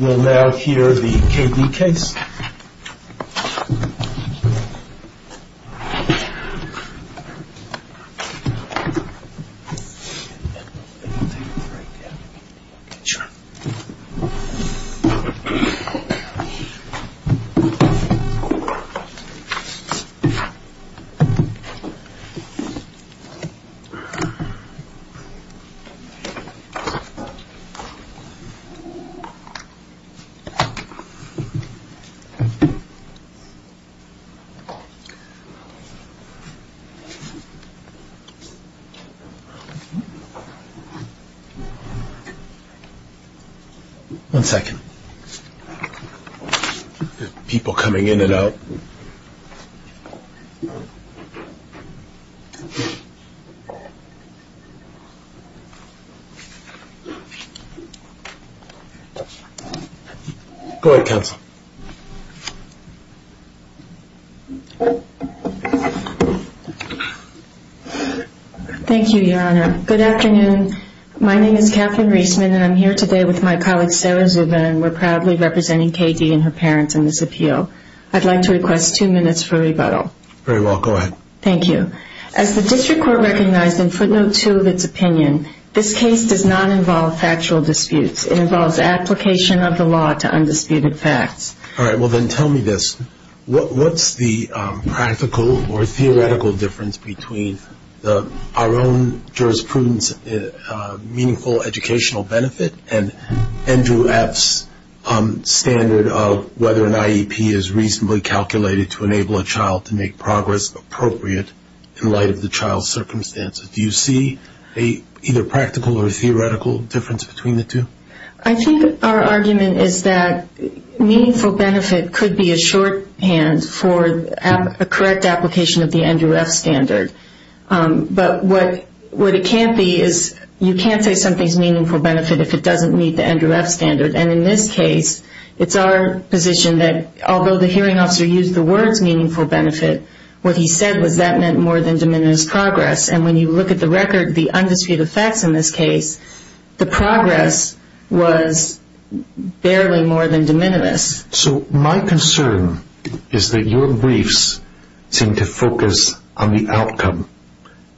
We'll now hear the K.D. case. One second. People coming in and out. Go ahead, Counsel. Thank you, Your Honor. Good afternoon. My name is Katherine Reisman and I'm here today with my colleague Sarah Zuba and we're proudly representing K.D. and her parents in this appeal. I'd like to request two minutes for rebuttal. Very well. Go ahead. Thank you. As the District Court recognized in footnote two of its opinion, this case does not involve factual disputes. It involves application of the law to undisputed facts. All right. Well, then tell me this. What's the practical or theoretical difference between our own jurisprudence's meaningful educational benefit and Andrew F.'s standard of whether an IEP is reasonably calculated to enable a child to make progress appropriate in light of the child's circumstances? Do you see a either practical or theoretical difference between the two? I think our argument is that meaningful benefit could be a shorthand for a correct application of the Andrew F. standard. But what it can't be is you can't say something's meaningful benefit if it doesn't meet the Andrew F. standard. And in this case, it's our position that although the hearing officer used the words meaningful benefit, what he said was that meant more than de minimis progress. And when you look at the record, the undisputed facts in this case, the progress was barely more than de minimis. So my concern is that your briefs seem to focus on the outcome.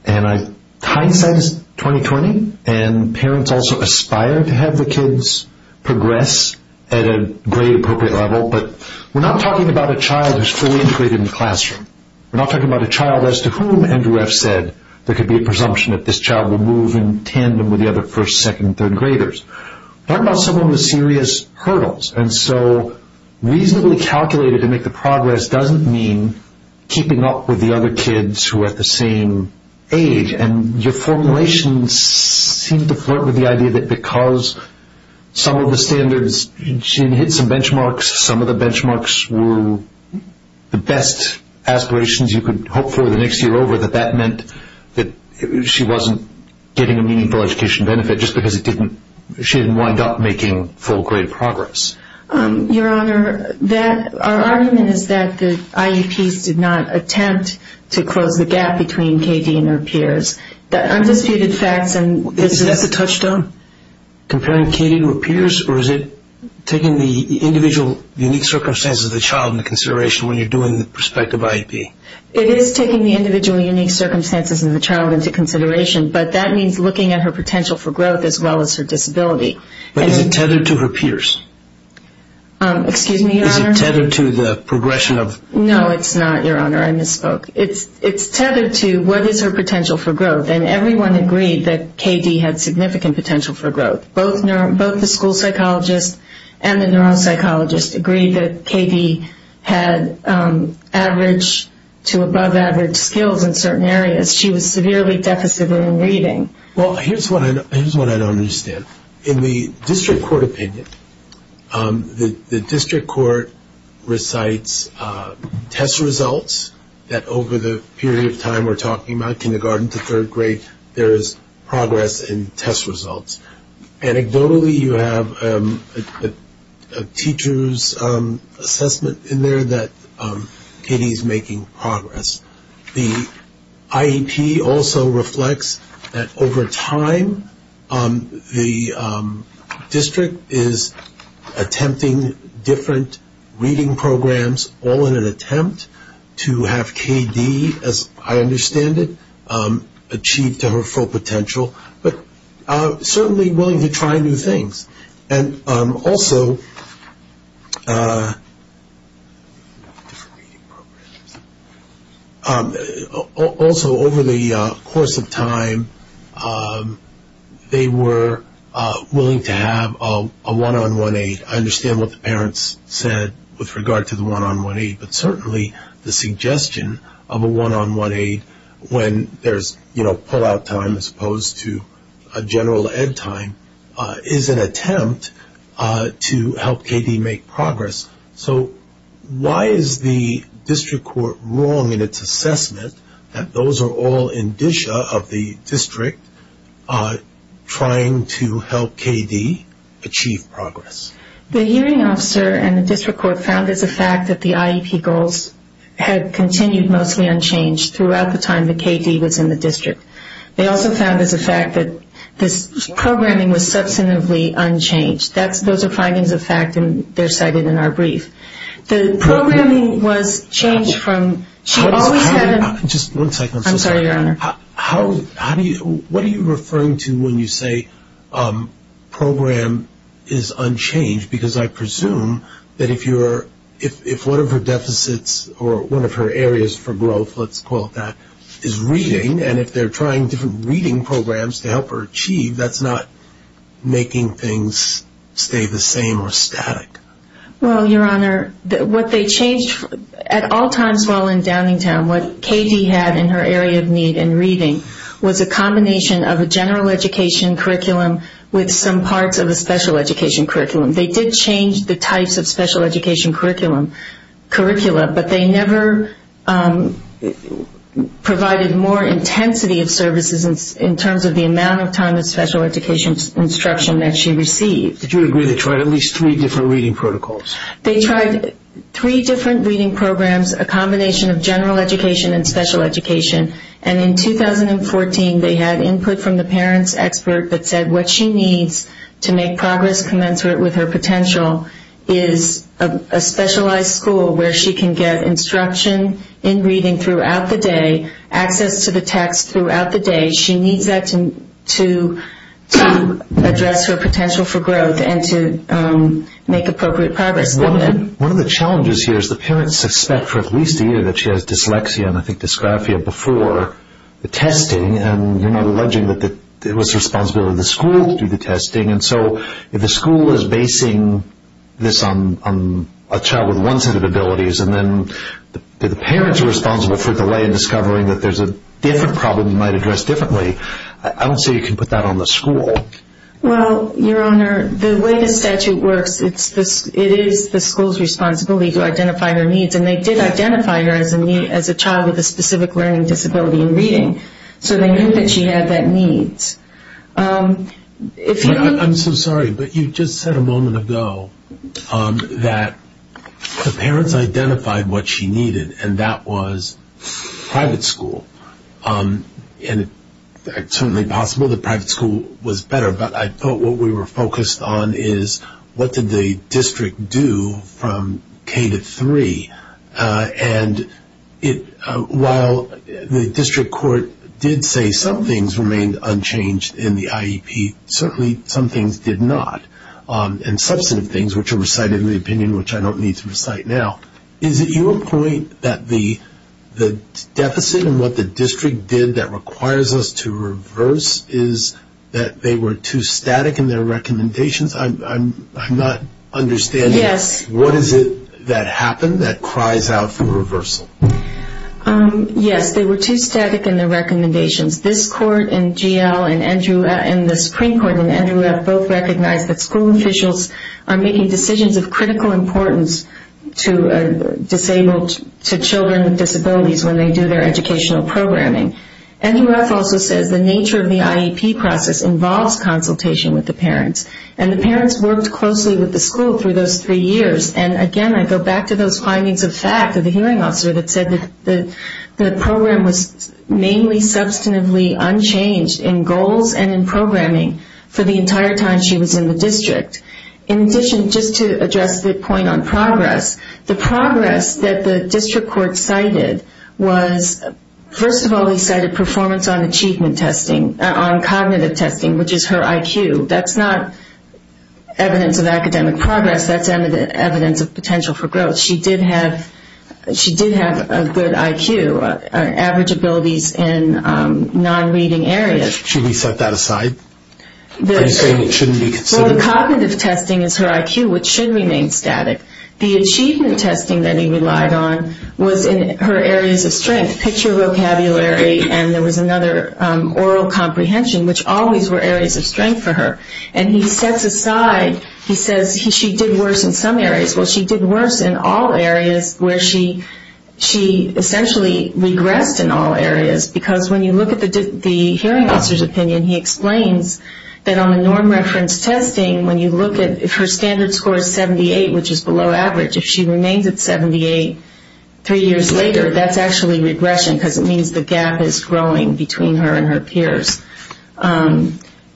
And hindsight is 20-20, and parents also aspire to have the kids progress at a grade-appropriate level. But we're not talking about a child who's fully integrated in the classroom. We're not talking about a child as to whom Andrew F. said there could be a presumption that this child would move in tandem with the other first, second, third graders. We're talking about someone with serious hurdles. And so reasonably calculated to make the progress doesn't mean keeping up with the other kids who are at the same age. And your formulations seem to flirt with the idea that because some of the standards, she hit some benchmarks, some of the benchmarks were the best aspirations you could hope for the next year over, that that meant that she wasn't getting a meaningful education benefit just because she didn't wind up making full grade progress. Your Honor, our argument is that the IEPs did not attempt to close the gap between KD and her peers. The undisputed facts in this case... Is that a touchstone, comparing KD to her peers, or is it taking the individual unique circumstances of the child into consideration when you're doing the prospective IEP? It is taking the individual unique circumstances of the child into consideration, but that means looking at her potential for growth as well as her disability. But is it tethered to her peers? Excuse me, Your Honor? Is it tethered to the progression of... No, it's not, Your Honor. I misspoke. It's tethered to what is her potential for growth. And everyone agreed that KD had significant potential for growth. Both the school psychologist and the neuropsychologist agreed that KD had average to above average skills in certain areas. Because she was severely deficient in reading. Well, here's what I don't understand. In the district court opinion, the district court recites test results that over the period of time we're talking about, kindergarten to third grade, there is progress in test results. Anecdotally, you have a teacher's assessment in there that KD is making progress. The IEP also reflects that over time the district is attempting different reading programs all in an attempt to have KD, as I understand it, achieve to her full potential, but certainly willing to try new things. And also... Also, over the course of time, they were willing to have a one-on-one aid. I understand what the parents said with regard to the one-on-one aid. But certainly the suggestion of a one-on-one aid when there's, you know, pull-out time as opposed to a general ed time is an attempt to help KD make progress. So why is the district court wrong in its assessment that those are all indicia of the district trying to help KD achieve progress? The hearing officer and the district court found as a fact that the IEP goals had continued mostly unchanged throughout the time that KD was in the district. They also found as a fact that this programming was substantively unchanged. Those are findings of fact, and they're cited in our brief. The programming was changed from... Just one second. I'm sorry, Your Honor. What are you referring to when you say program is unchanged? Because I presume that if one of her deficits or one of her areas for growth, let's call it that, is reading, and if they're trying different reading programs to help her achieve, that's not making things stay the same or static. Well, Your Honor, what they changed at all times while in Downingtown, what KD had in her area of need and reading was a combination of a general education curriculum with some parts of a special education curriculum. They did change the types of special education curriculum, but they never provided more intensity of services in terms of the amount of time of special education instruction that she received. Did you agree they tried at least three different reading protocols? They tried three different reading programs, a combination of general education and special education, and in 2014 they had input from the parents' expert that said what she needs to make progress commensurate with her potential is a specialized school where she can get instruction in reading throughout the day, access to the text throughout the day. She needs that to address her potential for growth and to make appropriate progress. One of the challenges here is the parents suspect for at least a year that she has dyslexia and you're not alleging that it was the responsibility of the school to do the testing, and so if the school is basing this on a child with one set of abilities and then the parents are responsible for delaying discovering that there's a different problem that might address differently, I don't see you can put that on the school. Well, Your Honor, the way the statute works, it is the school's responsibility to identify her needs, and they did identify her as a child with a specific learning disability in reading, so they knew that she had that need. I'm so sorry, but you just said a moment ago that the parents identified what she needed, and that was private school, and it's certainly possible that private school was better, but I thought what we were focused on is what did the district do from K-3, and while the district court did say some things remained unchanged in the IEP, certainly some things did not, and substantive things, which are recited in the opinion, which I don't need to recite now, is it your point that the deficit and what the district did that requires us to reverse is that they were too static in their recommendations? I'm not understanding. Yes. What is it that happened that cries out for reversal? Yes, they were too static in their recommendations. This court in GL and the Supreme Court in Andrew F. both recognized that school officials are making decisions of critical importance to children with disabilities when they do their educational programming. Andrew F. also says the nature of the IEP process involves consultation with the parents, and the parents worked closely with the school through those three years, and again I go back to those findings of fact of the hearing officer that said that the program was mainly substantively unchanged in goals and in programming for the entire time she was in the district. In addition, just to address the point on progress, the progress that the district court cited was, first of all, they cited performance on achievement testing, on cognitive testing, which is her IQ. That's not evidence of academic progress. That's evidence of potential for growth. She did have a good IQ, average abilities in non-reading areas. Should we set that aside? Are you saying it shouldn't be considered? Well, the cognitive testing is her IQ, which should remain static. The achievement testing that he relied on was in her areas of strength, picture vocabulary, and there was another, oral comprehension, which always were areas of strength for her. And he sets aside, he says she did worse in some areas. Well, she did worse in all areas where she essentially regressed in all areas, because when you look at the hearing officer's opinion, he explains that on the norm reference testing, when you look at, if her standard score is 78, which is below average, if she remains at 78 three years later, that's actually regression, because it means the gap is growing between her and her peers.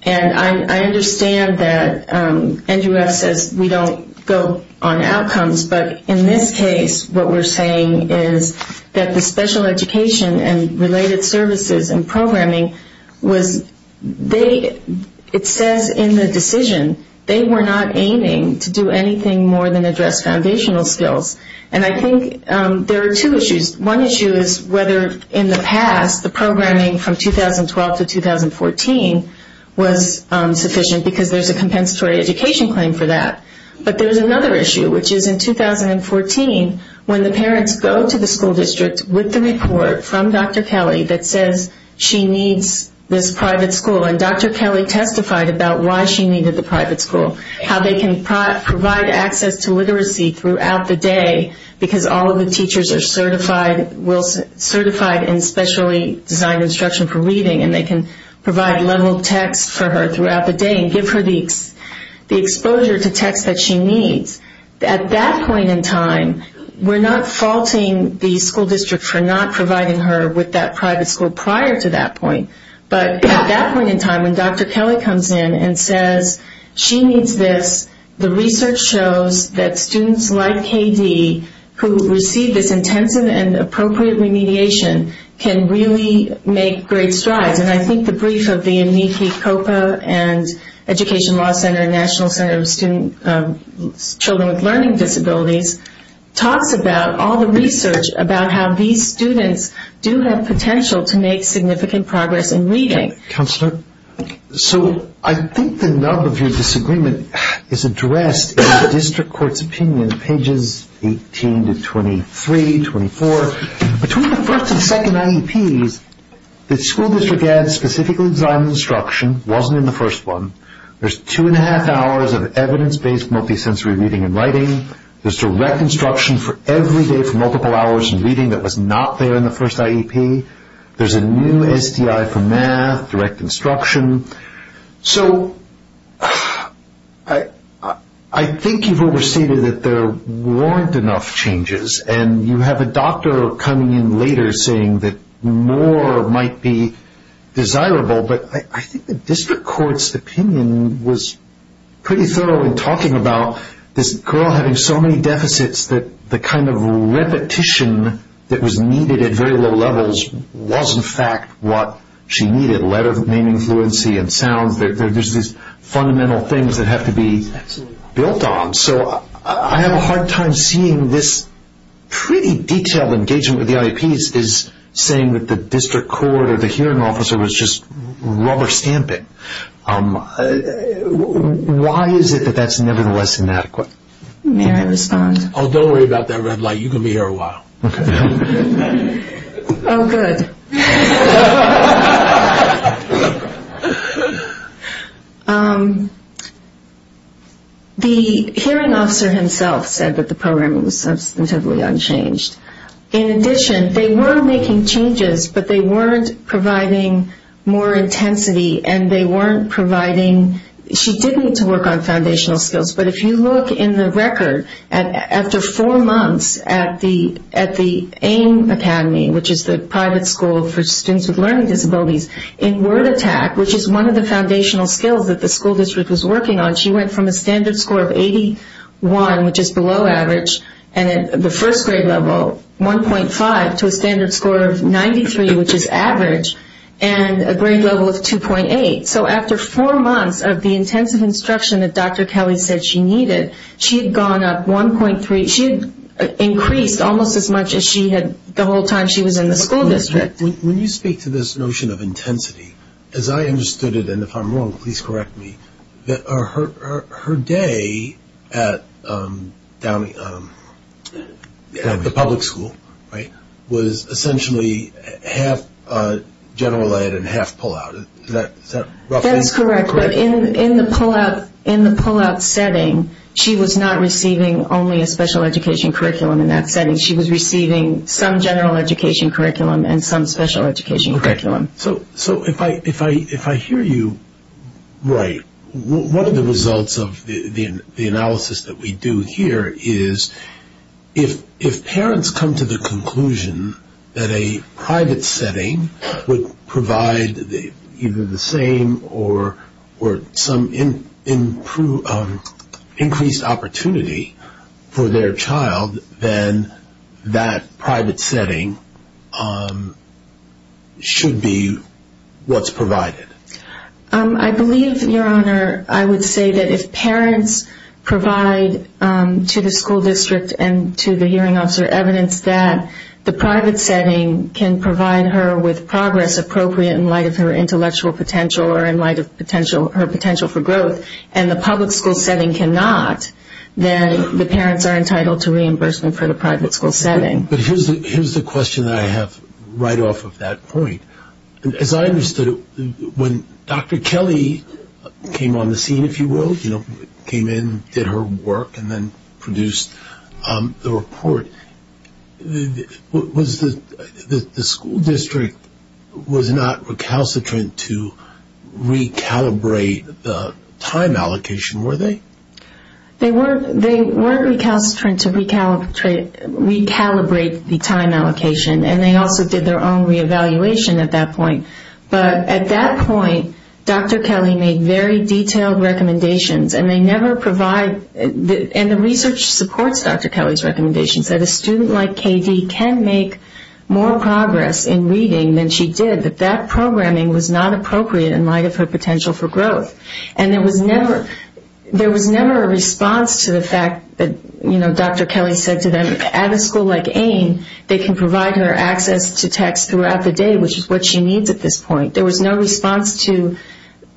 And I understand that NGREF says we don't go on outcomes, but in this case what we're saying is that the special education and related services and programming was, it says in the decision, they were not aiming to do anything more than address foundational skills. And I think there are two issues. One issue is whether in the past the programming from 2012 to 2014 was sufficient, because there's a compensatory education claim for that. But there's another issue, which is in 2014, when the parents go to the school district with the report from Dr. Kelly that says she needs this private school, and Dr. Kelly testified about why she needed the private school, how they can provide access to literacy throughout the day, because all of the teachers are certified in specially designed instruction for reading, and they can provide level text for her throughout the day and give her the exposure to text that she needs. At that point in time, we're not faulting the school district for not providing her with that private school prior to that point, but at that point in time when Dr. Kelly comes in and says she needs this, the research shows that students like K.D. who receive this intensive and appropriate remediation can really make great strides. And I think the brief of the Enrique Copa and Education Law Center National Center of Children with Learning Disabilities talks about all the research about how these students do have potential to make significant progress in reading. Counselor, so I think the nub of your disagreement is addressed in the district court's opinion, pages 18 to 23, 24. Between the first and second IEPs, the school district had specifically designed instruction, wasn't in the first one. There's two and a half hours of evidence-based multisensory reading and writing. There's direct instruction for every day for multiple hours of reading that was not there in the first IEP. There's a new STI for math, direct instruction. So I think you've overstated that there weren't enough changes, and you have a doctor coming in later saying that more might be desirable, but I think the district court's opinion was pretty thorough in talking about this girl having so many deficits that the kind of repetition that was needed at very low levels was, in fact, what she needed, letter naming fluency and sounds. There's these fundamental things that have to be built on. So I have a hard time seeing this pretty detailed engagement with the IEPs saying that the district court or the hearing officer was just rubber stamping. Why is it that that's nevertheless inadequate? May I respond? Oh, don't worry about that red light. You're going to be here a while. Okay. Oh, good. The hearing officer himself said that the program was substantively unchanged. In addition, they were making changes, but they weren't providing more intensity, and they weren't providing ñ she did need to work on foundational skills. But if you look in the record, after four months at the AIM Academy, which is the private school for students with learning disabilities, in word attack, which is one of the foundational skills that the school district was working on, she went from a standard score of 81, which is below average, and at the first grade level, 1.5, to a standard score of 93, which is average, and a grade level of 2.8. So after four months of the intensive instruction that Dr. Kelly said she needed, she had gone up 1.3. She had increased almost as much as she had the whole time she was in the school district. When you speak to this notion of intensity, as I understood it, and if I'm wrong, please correct me, her day at the public school was essentially half general ed and half pullout. Is that roughly correct? That is correct, but in the pullout setting, she was not receiving only a special education curriculum in that setting. She was receiving some general education curriculum and some special education curriculum. So if I hear you right, one of the results of the analysis that we do here is if parents come to the conclusion that a private setting would provide either the same or some increased opportunity for their child, then that private setting should be what's provided. I believe, Your Honor, I would say that if parents provide to the school district and to the hearing officer evidence that the private setting can provide her with progress appropriate in light of her intellectual potential or in light of her potential for growth, and the public school setting cannot, then the parents are entitled to reimbursement for the private school setting. But here's the question that I have right off of that point. As I understood it, when Dr. Kelly came on the scene, if you will, came in, did her work, and then produced the report, the school district was not recalcitrant to recalibrate the time allocation, were they? They weren't recalcitrant to recalibrate the time allocation, and they also did their own reevaluation at that point. But at that point, Dr. Kelly made very detailed recommendations, and they never provide, and the research supports Dr. Kelly's recommendations, that a student like K.D. can make more progress in reading than she did, that that programming was not appropriate in light of her potential for growth. And there was never a response to the fact that, you know, Dr. Kelly said to them, at a school like AIM, they can provide her access to text throughout the day, which is what she needs at this point. There was no response to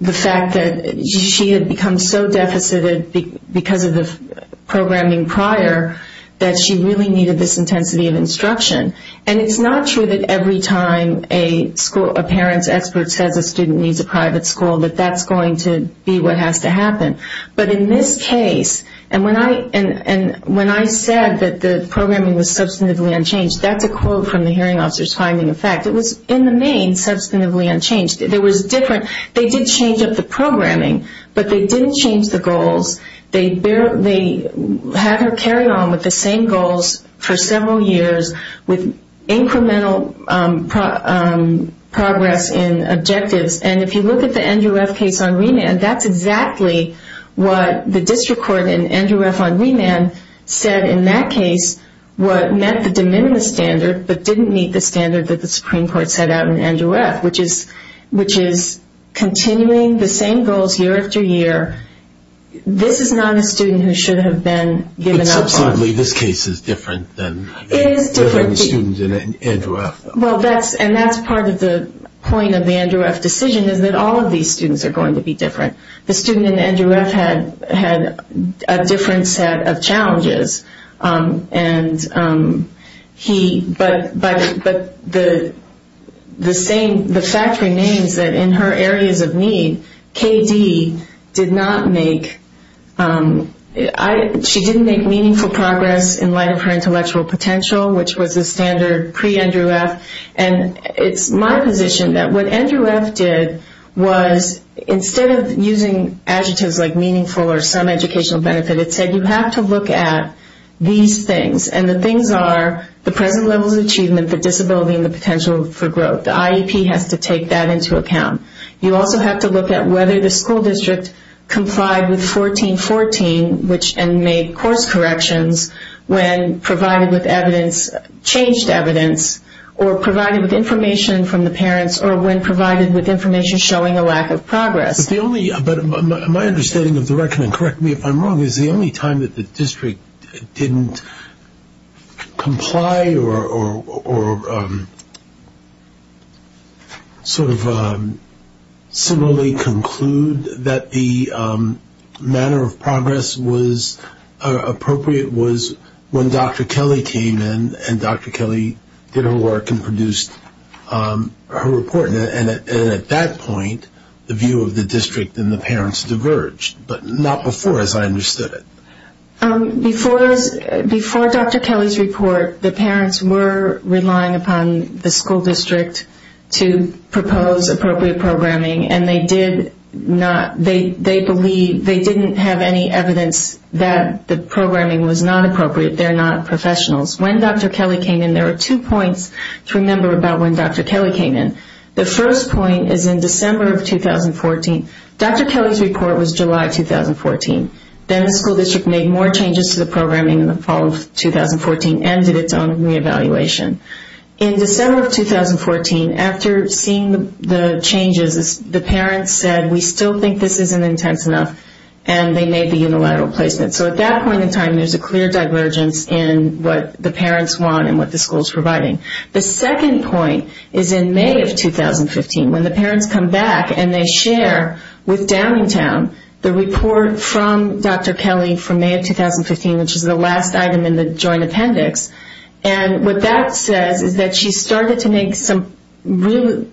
the fact that she had become so deficited because of the programming prior that she really needed this intensity of instruction. And it's not true that every time a parent's expert says a student needs a private school, that that's going to be what has to happen. But in this case, and when I said that the programming was substantively unchanged, that's a quote from the hearing officer's finding of fact. It was in the main substantively unchanged. They did change up the programming, but they didn't change the goals. They had her carry on with the same goals for several years with incremental progress in objectives. And if you look at the Andrew F. case on remand, that's exactly what the district court in Andrew F. on remand said in that case, what met the de minimis standard but didn't meet the standard that the Supreme Court set out in Andrew F., which is continuing the same goals year after year. This is not a student who should have been given up on. But subsequently, this case is different than the students in Andrew F. And that's part of the point of the Andrew F. decision, is that all of these students are going to be different. The student in Andrew F. had a different set of challenges. But the fact remains that in her areas of need, K.D. did not make meaningful progress in light of her intellectual potential, which was the standard pre-Andrew F. And it's my position that what Andrew F. did was, instead of using adjectives like meaningful or some educational benefit, it said you have to look at these things. And the things are the present level of achievement, the disability, and the potential for growth. The IEP has to take that into account. You also have to look at whether the school district complied with 1414 and made course corrections when provided with evidence, changed evidence, or provided with information from the parents or when provided with information showing a lack of progress. My understanding of the record, and correct me if I'm wrong, is the only time that the district didn't comply or similarly conclude that the manner of progress was appropriate was when Dr. Kelly came in and Dr. Kelly did her work and produced her report. And at that point, the view of the district and the parents diverged, but not before, as I understood it. Before Dr. Kelly's report, the parents were relying upon the school district to propose appropriate programming, and they didn't have any evidence that the programming was not appropriate. They're not professionals. When Dr. Kelly came in, there were two points to remember about when Dr. Kelly came in. The first point is in December of 2014. Dr. Kelly's report was July 2014. Then the school district made more changes to the programming in the fall of 2014 and did its own re-evaluation. In December of 2014, after seeing the changes, the parents said, we still think this isn't intense enough, and they made the unilateral placement. So at that point in time, there's a clear divergence in what the parents want and what the school's providing. The second point is in May of 2015, when the parents come back and they share with Downingtown the report from Dr. Kelly from May of 2015, which is the last item in the joint appendix. And what that says is that she started to make some really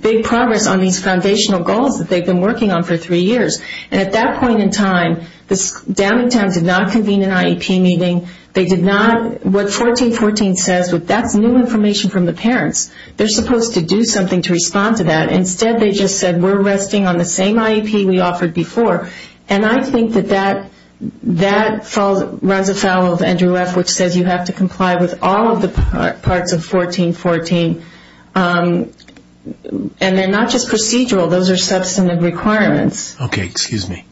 big progress on these foundational goals that they've been working on for three years. And at that point in time, Downingtown did not convene an IEP meeting. What 1414 says, that's new information from the parents. They're supposed to do something to respond to that. Instead, they just said, we're resting on the same IEP we offered before. And I think that that runs afoul of Andrew F., which says you have to comply with all of the parts of 1414. And they're not just procedural. Those are substantive requirements. Okay, excuse me.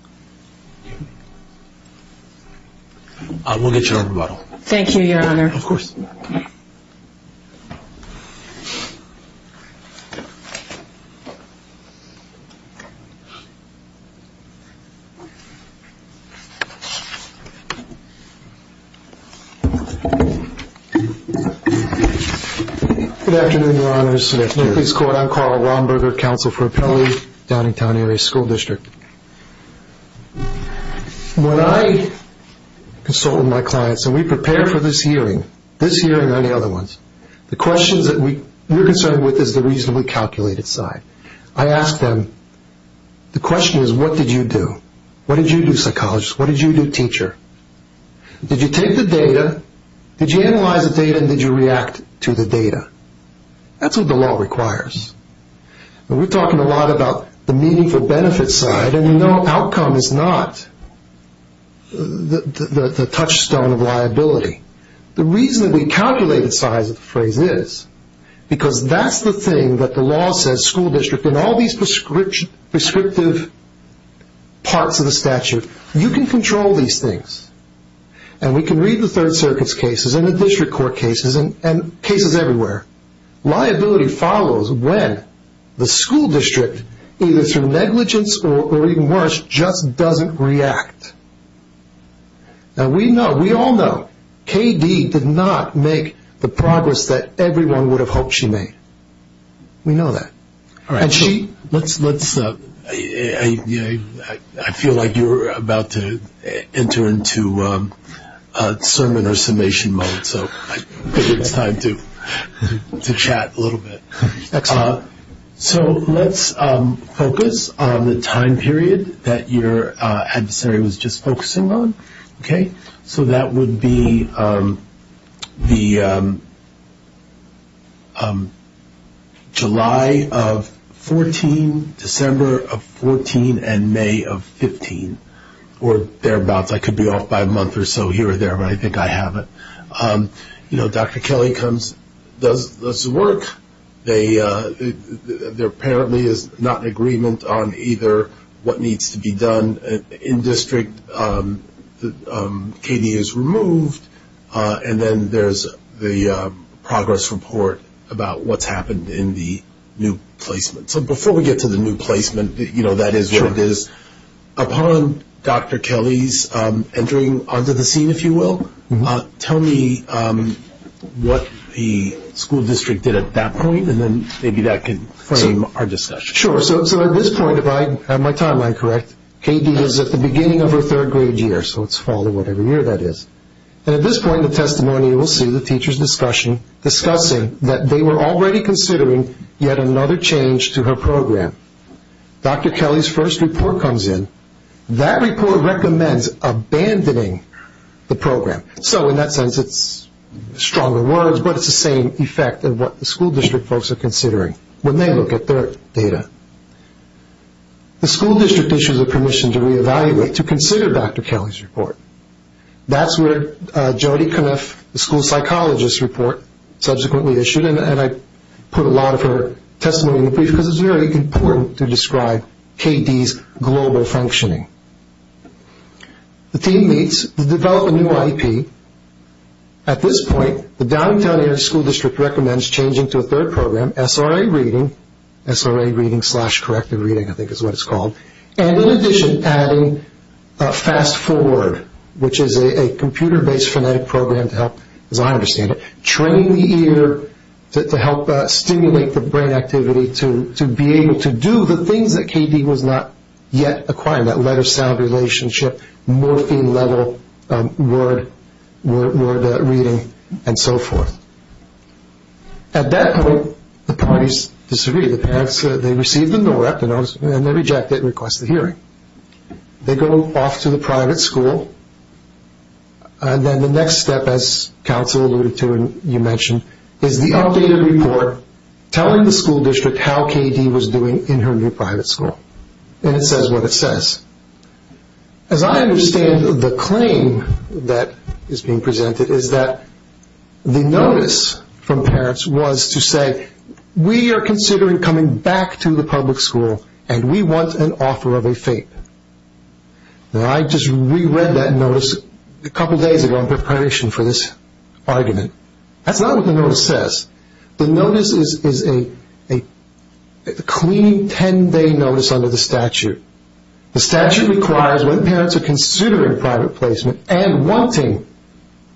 We'll get you a rebuttal. Thank you, Your Honor. Of course. Good afternoon, Your Honors. I'm Carl Romberger, Counsel for Appellee, Downingtown Area School District. When I consult with my clients and we prepare for this hearing, this hearing and any other ones, the questions that we're concerned with is the reasonably calculated side. I ask them, the question is, what did you do? What did you do, psychologist? What did you do, teacher? Did you take the data? Did you analyze the data and did you react to the data? That's what the law requires. We're talking a lot about the meaningful benefits side, and the outcome is not the touchstone of liability. The reasonably calculated side of the phrase is because that's the thing that the law says, school district, in all these prescriptive parts of the statute, you can control these things. And we can read the Third Circuit's cases and the district court cases and cases everywhere. Liability follows when the school district, either through negligence or even worse, just doesn't react. Now, we know, we all know, K.D. did not make the progress that everyone would have hoped she made. We know that. I feel like you're about to enter into sermon or summation mode, so I figured it's time to chat a little bit. Excellent. So let's focus on the time period that your adversary was just focusing on. Okay. So that would be the July of 14, December of 14, and May of 15, or thereabouts. I could be off by a month or so here or there, but I think I have it. You know, Dr. Kelly comes, does the work. There apparently is not an agreement on either what needs to be done in district. And K.D. is removed, and then there's the progress report about what's happened in the new placement. So before we get to the new placement, you know, that is what it is. Upon Dr. Kelly's entering onto the scene, if you will, tell me what the school district did at that point, and then maybe that could frame our discussion. Sure. So at this point, if I have my timeline correct, K.D. is at the beginning of her third grade year, so it's fall or whatever year that is. And at this point in the testimony, you will see the teacher's discussion, discussing that they were already considering yet another change to her program. Dr. Kelly's first report comes in. That report recommends abandoning the program. So in that sense, it's stronger words, but it's the same effect of what the school district folks are considering when they look at their data. The school district issues a permission to reevaluate, to consider Dr. Kelly's report. That's where Jodi Kniff, the school psychologist, report subsequently issued, and I put a lot of her testimony in the brief because it's very important to describe K.D.'s global functioning. The team meets to develop a new IEP. At this point, the downtown area school district recommends changing to a third program, SRA reading, SRA reading slash corrective reading I think is what it's called, and in addition adding Fast Forward, which is a computer-based phonetic program to help, as I understand it, train the ear to help stimulate the brain activity to be able to do the things that K.D. was not yet acquiring, that letter-sound relationship, morphine-level word reading, and so forth. At that point, the parties disagree. The parents, they receive the NORAP, the notice, and they reject it and request the hearing. They go off to the private school, and then the next step, as counsel alluded to and you mentioned, is the updated report telling the school district how K.D. was doing in her new private school, and it says what it says. As I understand the claim that is being presented is that the notice from parents was to say, we are considering coming back to the public school, and we want an offer of a fate. Now, I just reread that notice a couple days ago in preparation for this argument. That's not what the notice says. The notice is a clean 10-day notice under the statute. The statute requires when parents are considering private placement and wanting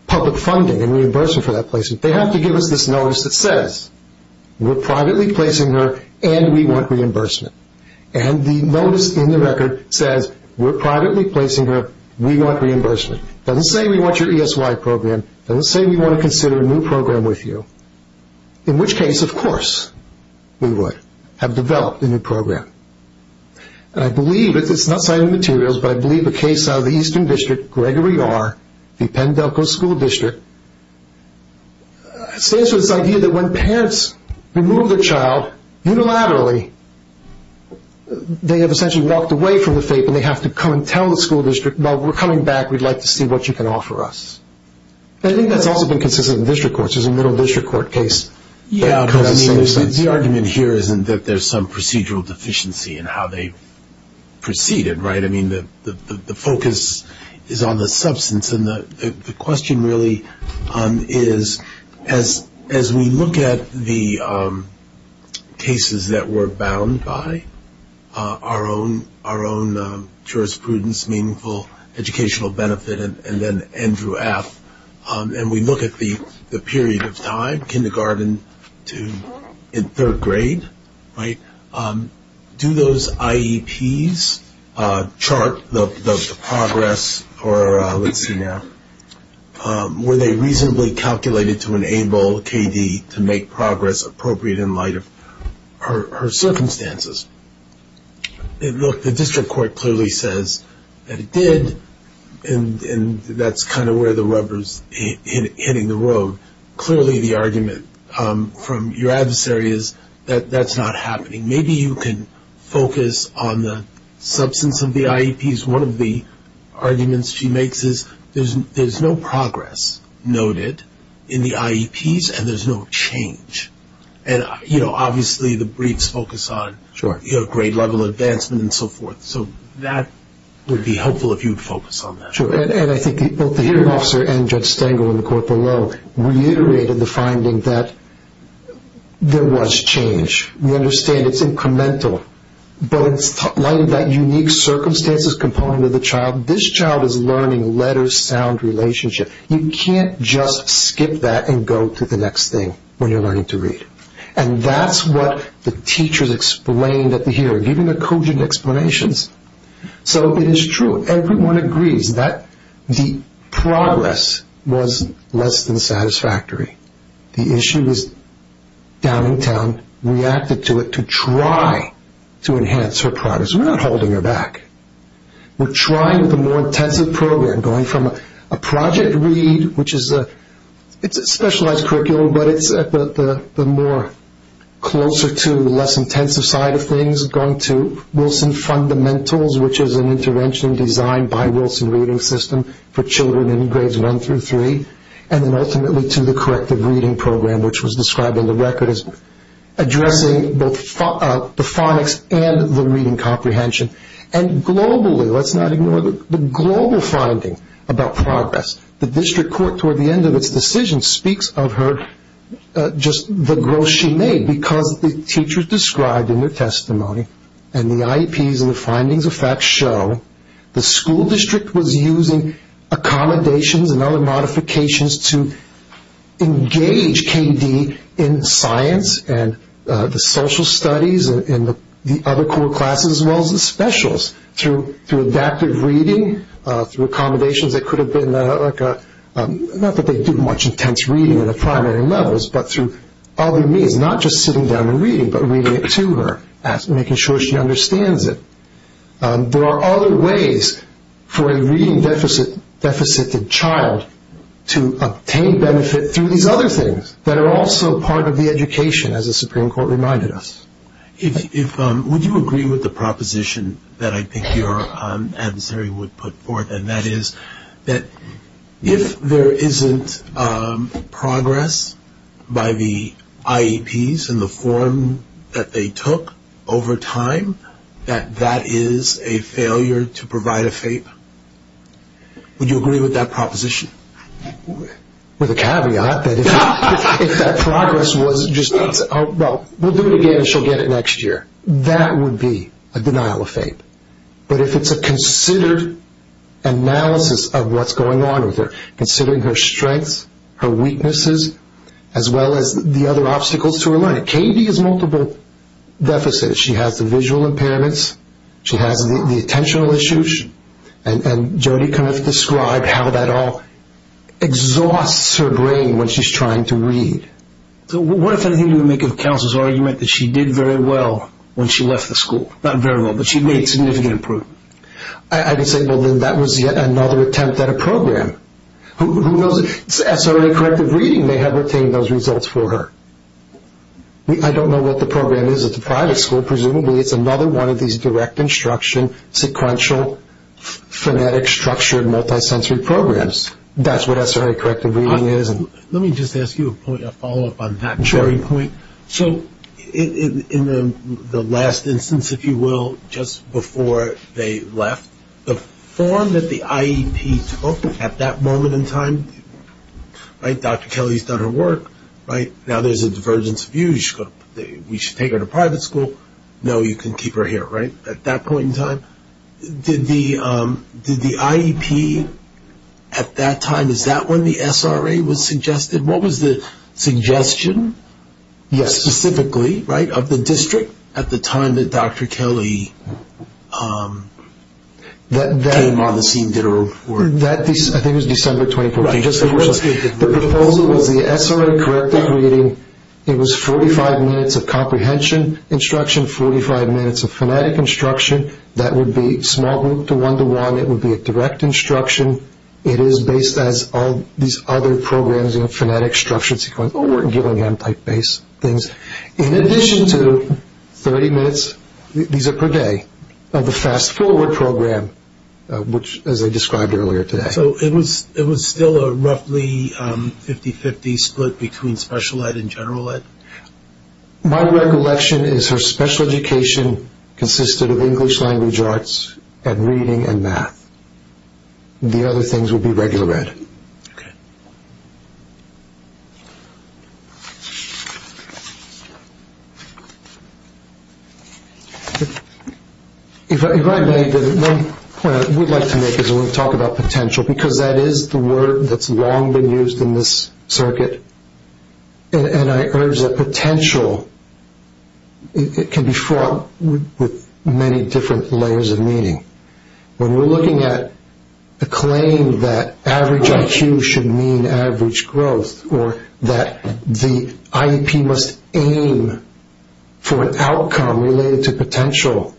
public funding and reimbursement for that placement, they have to give us this notice that says, we're privately placing her, and we want reimbursement. And the notice in the record says, we're privately placing her, we want reimbursement. It doesn't say we want your ESY program. It doesn't say we want to consider a new program with you, in which case, of course, we would have developed a new program. And I believe, it's not cited in the materials, but I believe the case out of the Eastern District, Gregory R., the Pendelco School District, stands for this idea that when parents remove their child unilaterally, they have essentially walked away from the fate, and they have to come and tell the school district, well, we're coming back, we'd like to see what you can offer us. I think that's also been consistent in district courts. There's a middle district court case that comes in the same sense. The argument here isn't that there's some procedural deficiency in how they proceeded, right? I mean, the focus is on the substance, and the question really is as we look at the cases that we're bound by, our own jurisprudence, meaningful educational benefit, and then Andrew F., and we look at the period of time, kindergarten to third grade, right, do those IEPs chart the progress, or let's see now, were they reasonably calculated to enable K.D. to make progress appropriate in light of her circumstances? Look, the district court clearly says that it did, and that's kind of where the rubber's hitting the road. Clearly the argument from your adversary is that that's not happening. Maybe you can focus on the substance of the IEPs. One of the arguments she makes is there's no progress noted in the IEPs, and there's no change. And, you know, obviously the briefs focus on grade level advancement and so forth, so that would be helpful if you would focus on that. True, and I think both the hearing officer and Judge Stengel in the court below reiterated the finding that there was change. We understand it's incremental, but in light of that unique circumstances component of the child, this child is learning letter-sound relationship. You can't just skip that and go to the next thing when you're learning to read, and that's what the teachers explained at the hearing, giving the cogent explanations. So it is true. Everyone agrees that the progress was less than satisfactory. The issue is Downingtown reacted to it to try to enhance her progress. We're not holding her back. We're trying with a more intensive program, going from a project read, which is a specialized curriculum, but it's the more closer to the less intensive side of things, going to Wilson Fundamentals, which is an intervention designed by Wilson Reading System for children in grades one through three, and then ultimately to the corrective reading program, which was described in the record as addressing both the phonics and the reading comprehension. And globally, let's not ignore the global finding about progress. The district court, toward the end of its decision, speaks of just the growth she made because the teachers described in their testimony and the IEPs and the findings of fact show the school district was using accommodations and other modifications to engage KD in science and the social studies and the other core classes as well as the specials through adaptive reading, through accommodations that could have been, not that they do much intense reading in the primary levels, but through other means, not just sitting down and reading, but reading it to her, making sure she understands it. There are other ways for a reading-deficited child to obtain benefit through these other things that are also part of the education, as the Supreme Court reminded us. Would you agree with the proposition that I think your adversary would put forth, and that is that if there isn't progress by the IEPs in the form that they took over time, that that is a failure to provide a favor? Would you agree with that proposition? With a caveat that if that progress was just, well, we'll do it again and she'll get it next year. That would be a denial of faith. But if it's a considered analysis of what's going on with her, considering her strengths, her weaknesses, as well as the other obstacles to her learning. KD has multiple deficits. She has the visual impairments. She has the attentional issues. And Jodi kind of described how that all exhausts her brain when she's trying to read. So what if anything you would make of counsel's argument that she did very well when she left the school? Not very well, but she made significant improvement. I would say, well, then that was yet another attempt at a program. Who knows? SRA Corrective Reading may have obtained those results for her. I don't know what the program is at the private school. Presumably it's another one of these direct instruction sequential phonetic structured multisensory programs. That's what SRA Corrective Reading is. Let me just ask you a follow-up on that very point. Sure. So in the last instance, if you will, just before they left, the form that the IEP took at that moment in time, right, Dr. Kelly's done her work, right, now there's a divergence of views. We should take her to private school. No, you can keep her here, right, at that point in time? Did the IEP at that time, is that when the SRA was suggested? What was the suggestion? Yes. Specifically, right, of the district at the time that Dr. Kelly came on the scene, did her work? I think it was December 2014. The proposal was the SRA Corrective Reading. It was 45 minutes of comprehension instruction, 45 minutes of phonetic instruction. That would be small group to one-to-one. It would be a direct instruction. It is based as all these other programs, you know, phonetic structured sequential, Gillingham-type based things. In addition to 30 minutes, these are per day, of the fast-forward program, which, as I described earlier today. So it was still a roughly 50-50 split between special ed and general ed? My recollection is her special education consisted of English language arts and reading and math. The other things would be regular ed. Okay. If I may, one point I would like to make is I want to talk about potential, because that is the word that's long been used in this circuit, and I urge that potential, it can be fraught with many different layers of meaning. When we're looking at the claim that average IQ should mean average growth, or that the IEP must aim for an outcome related to potential,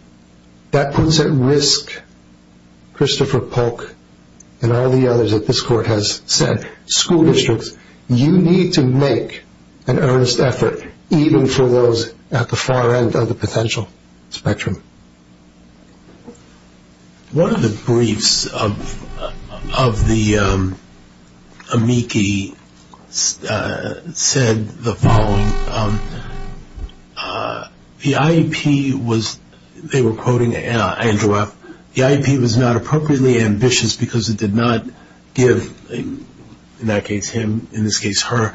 that puts at risk Christopher Polk and all the others that this court has said. You need to make an earnest effort, even for those at the far end of the potential spectrum. One of the briefs of the amici said the following. The IEP was, they were quoting Andrew F., the IEP was not appropriately ambitious because it did not give, in that case him, in this case her,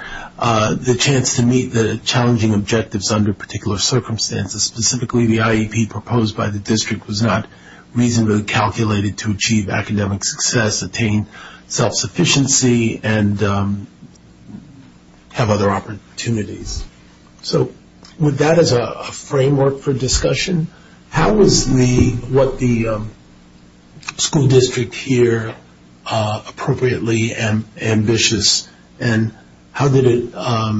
the chance to meet the challenging objectives under particular circumstances. Specifically, the IEP proposed by the district was not reasonably calculated to achieve academic success, attain self-sufficiency, and have other opportunities. So with that as a framework for discussion, how is what the school district here appropriately ambitious, and how did it, I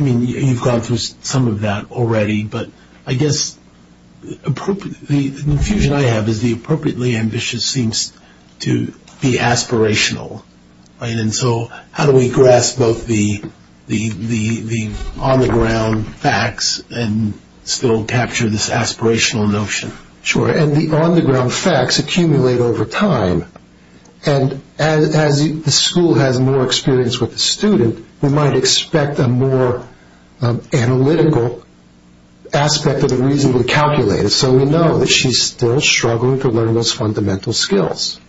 mean you've gone through some of that already, but I guess the confusion I have is the appropriately ambitious seems to be aspirational, right? And so how do we grasp both the on-the-ground facts and still capture this aspirational notion? Sure, and the on-the-ground facts accumulate over time, and as the school has more experience with the student, we might expect a more analytical aspect of the reasonably calculated, so we know that she's still struggling to learn those fundamental skills,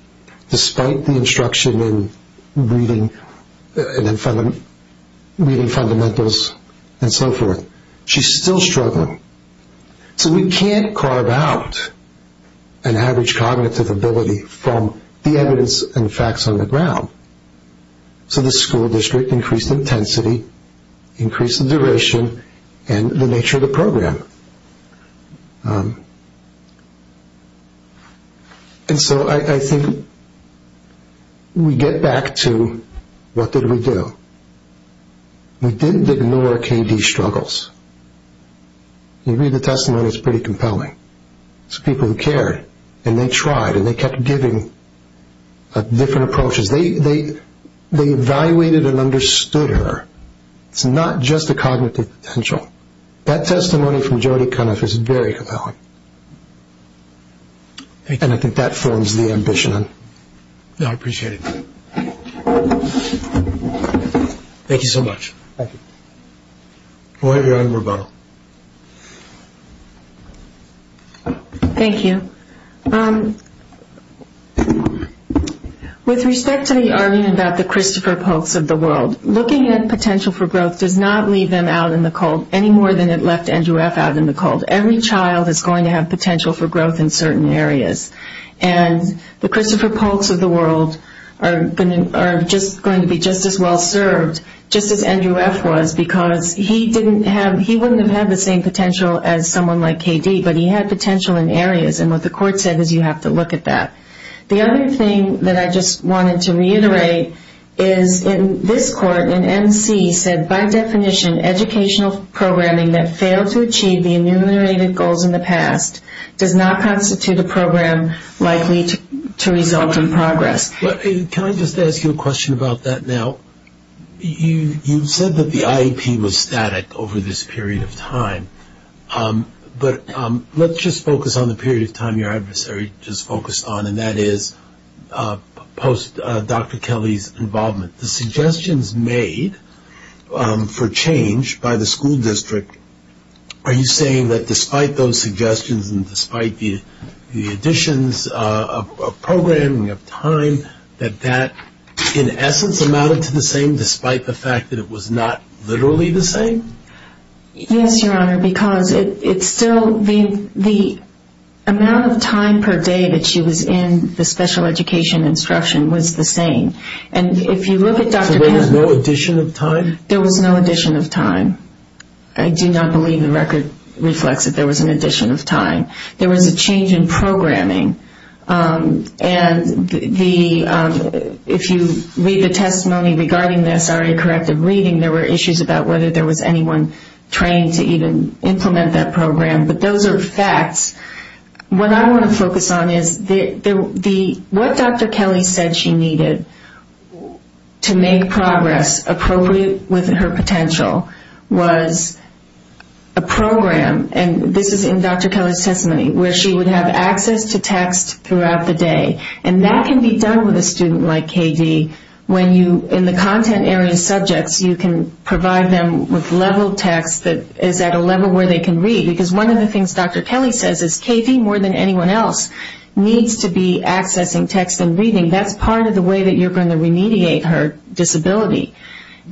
despite the instruction in reading fundamentals and so forth. She's still struggling. So we can't carve out an average cognitive ability from the evidence and facts on the ground. So the school district increased intensity, increased the duration, and the nature of the program. And so I think we get back to what did we do? We didn't ignore K.D.'s struggles. You read the testimony, it's pretty compelling. It's people who cared, and they tried, and they kept giving different approaches. They evaluated and understood her. It's not just the cognitive potential. That testimony from Jodi Kunniff is very compelling, and I think that forms the ambition. I appreciate it. Thank you so much. Thank you. We'll have your honor, Rebonna. Thank you. With respect to the argument about the Christopher Polks of the world, looking at potential for growth does not leave them out in the cold, any more than it left Andrew F. out in the cold. Every child is going to have potential for growth in certain areas. And the Christopher Polks of the world are going to be just as well served, just as Andrew F. was, because he wouldn't have had the same potential as someone like K.D., but he had potential in areas, and what the court said is you have to look at that. The other thing that I just wanted to reiterate is in this court, and N.C. said by definition educational programming that failed to achieve the enumerated goals in the past does not constitute a program likely to result in progress. Can I just ask you a question about that now? You said that the IEP was static over this period of time, but let's just focus on the period of time your adversary just focused on, and that is post-Dr. Kelly's involvement. The suggestions made for change by the school district, are you saying that despite those suggestions and despite the additions of programming of time, that that in essence amounted to the same despite the fact that it was not literally the same? Yes, Your Honor, because the amount of time per day that she was in the special education instruction was the same. So there was no addition of time? There was no addition of time. I do not believe the record reflects that there was an addition of time. There was a change in programming, and if you read the testimony regarding this, there were issues about whether there was anyone trained to even implement that program, but those are facts. What I want to focus on is what Dr. Kelly said she needed to make progress appropriate with her potential was a program, and this is in Dr. Kelly's testimony, where she would have access to text throughout the day, and that can be done with a student like KD when you, in the content area subjects, you can provide them with level text that is at a level where they can read, because one of the things Dr. Kelly says is KD, more than anyone else, needs to be accessing text and reading. That's part of the way that you're going to remediate her disability,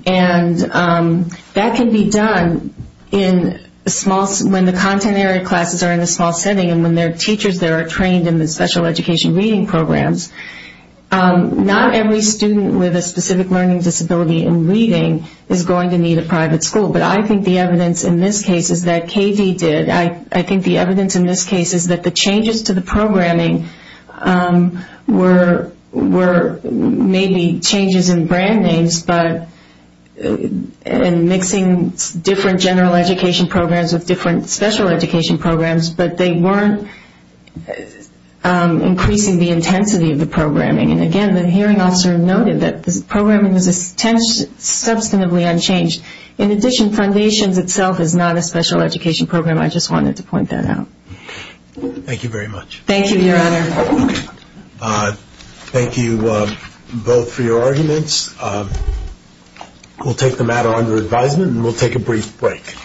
and that can be done when the content area classes are in a small setting and when there are teachers that are trained in the special education reading programs. Not every student with a specific learning disability in reading is going to need a private school, but I think the evidence in this case is that KD did. I think the evidence in this case is that the changes to the programming were maybe changes in brand names and mixing different general education programs with different special education programs, but they weren't increasing the intensity of the programming. And again, the hearing officer noted that the programming was substantially unchanged. In addition, foundations itself is not a special education program. I just wanted to point that out. Thank you very much. Thank you, Your Honor. Thank you both for your arguments. We'll take the matter under advisement, and we'll take a brief break.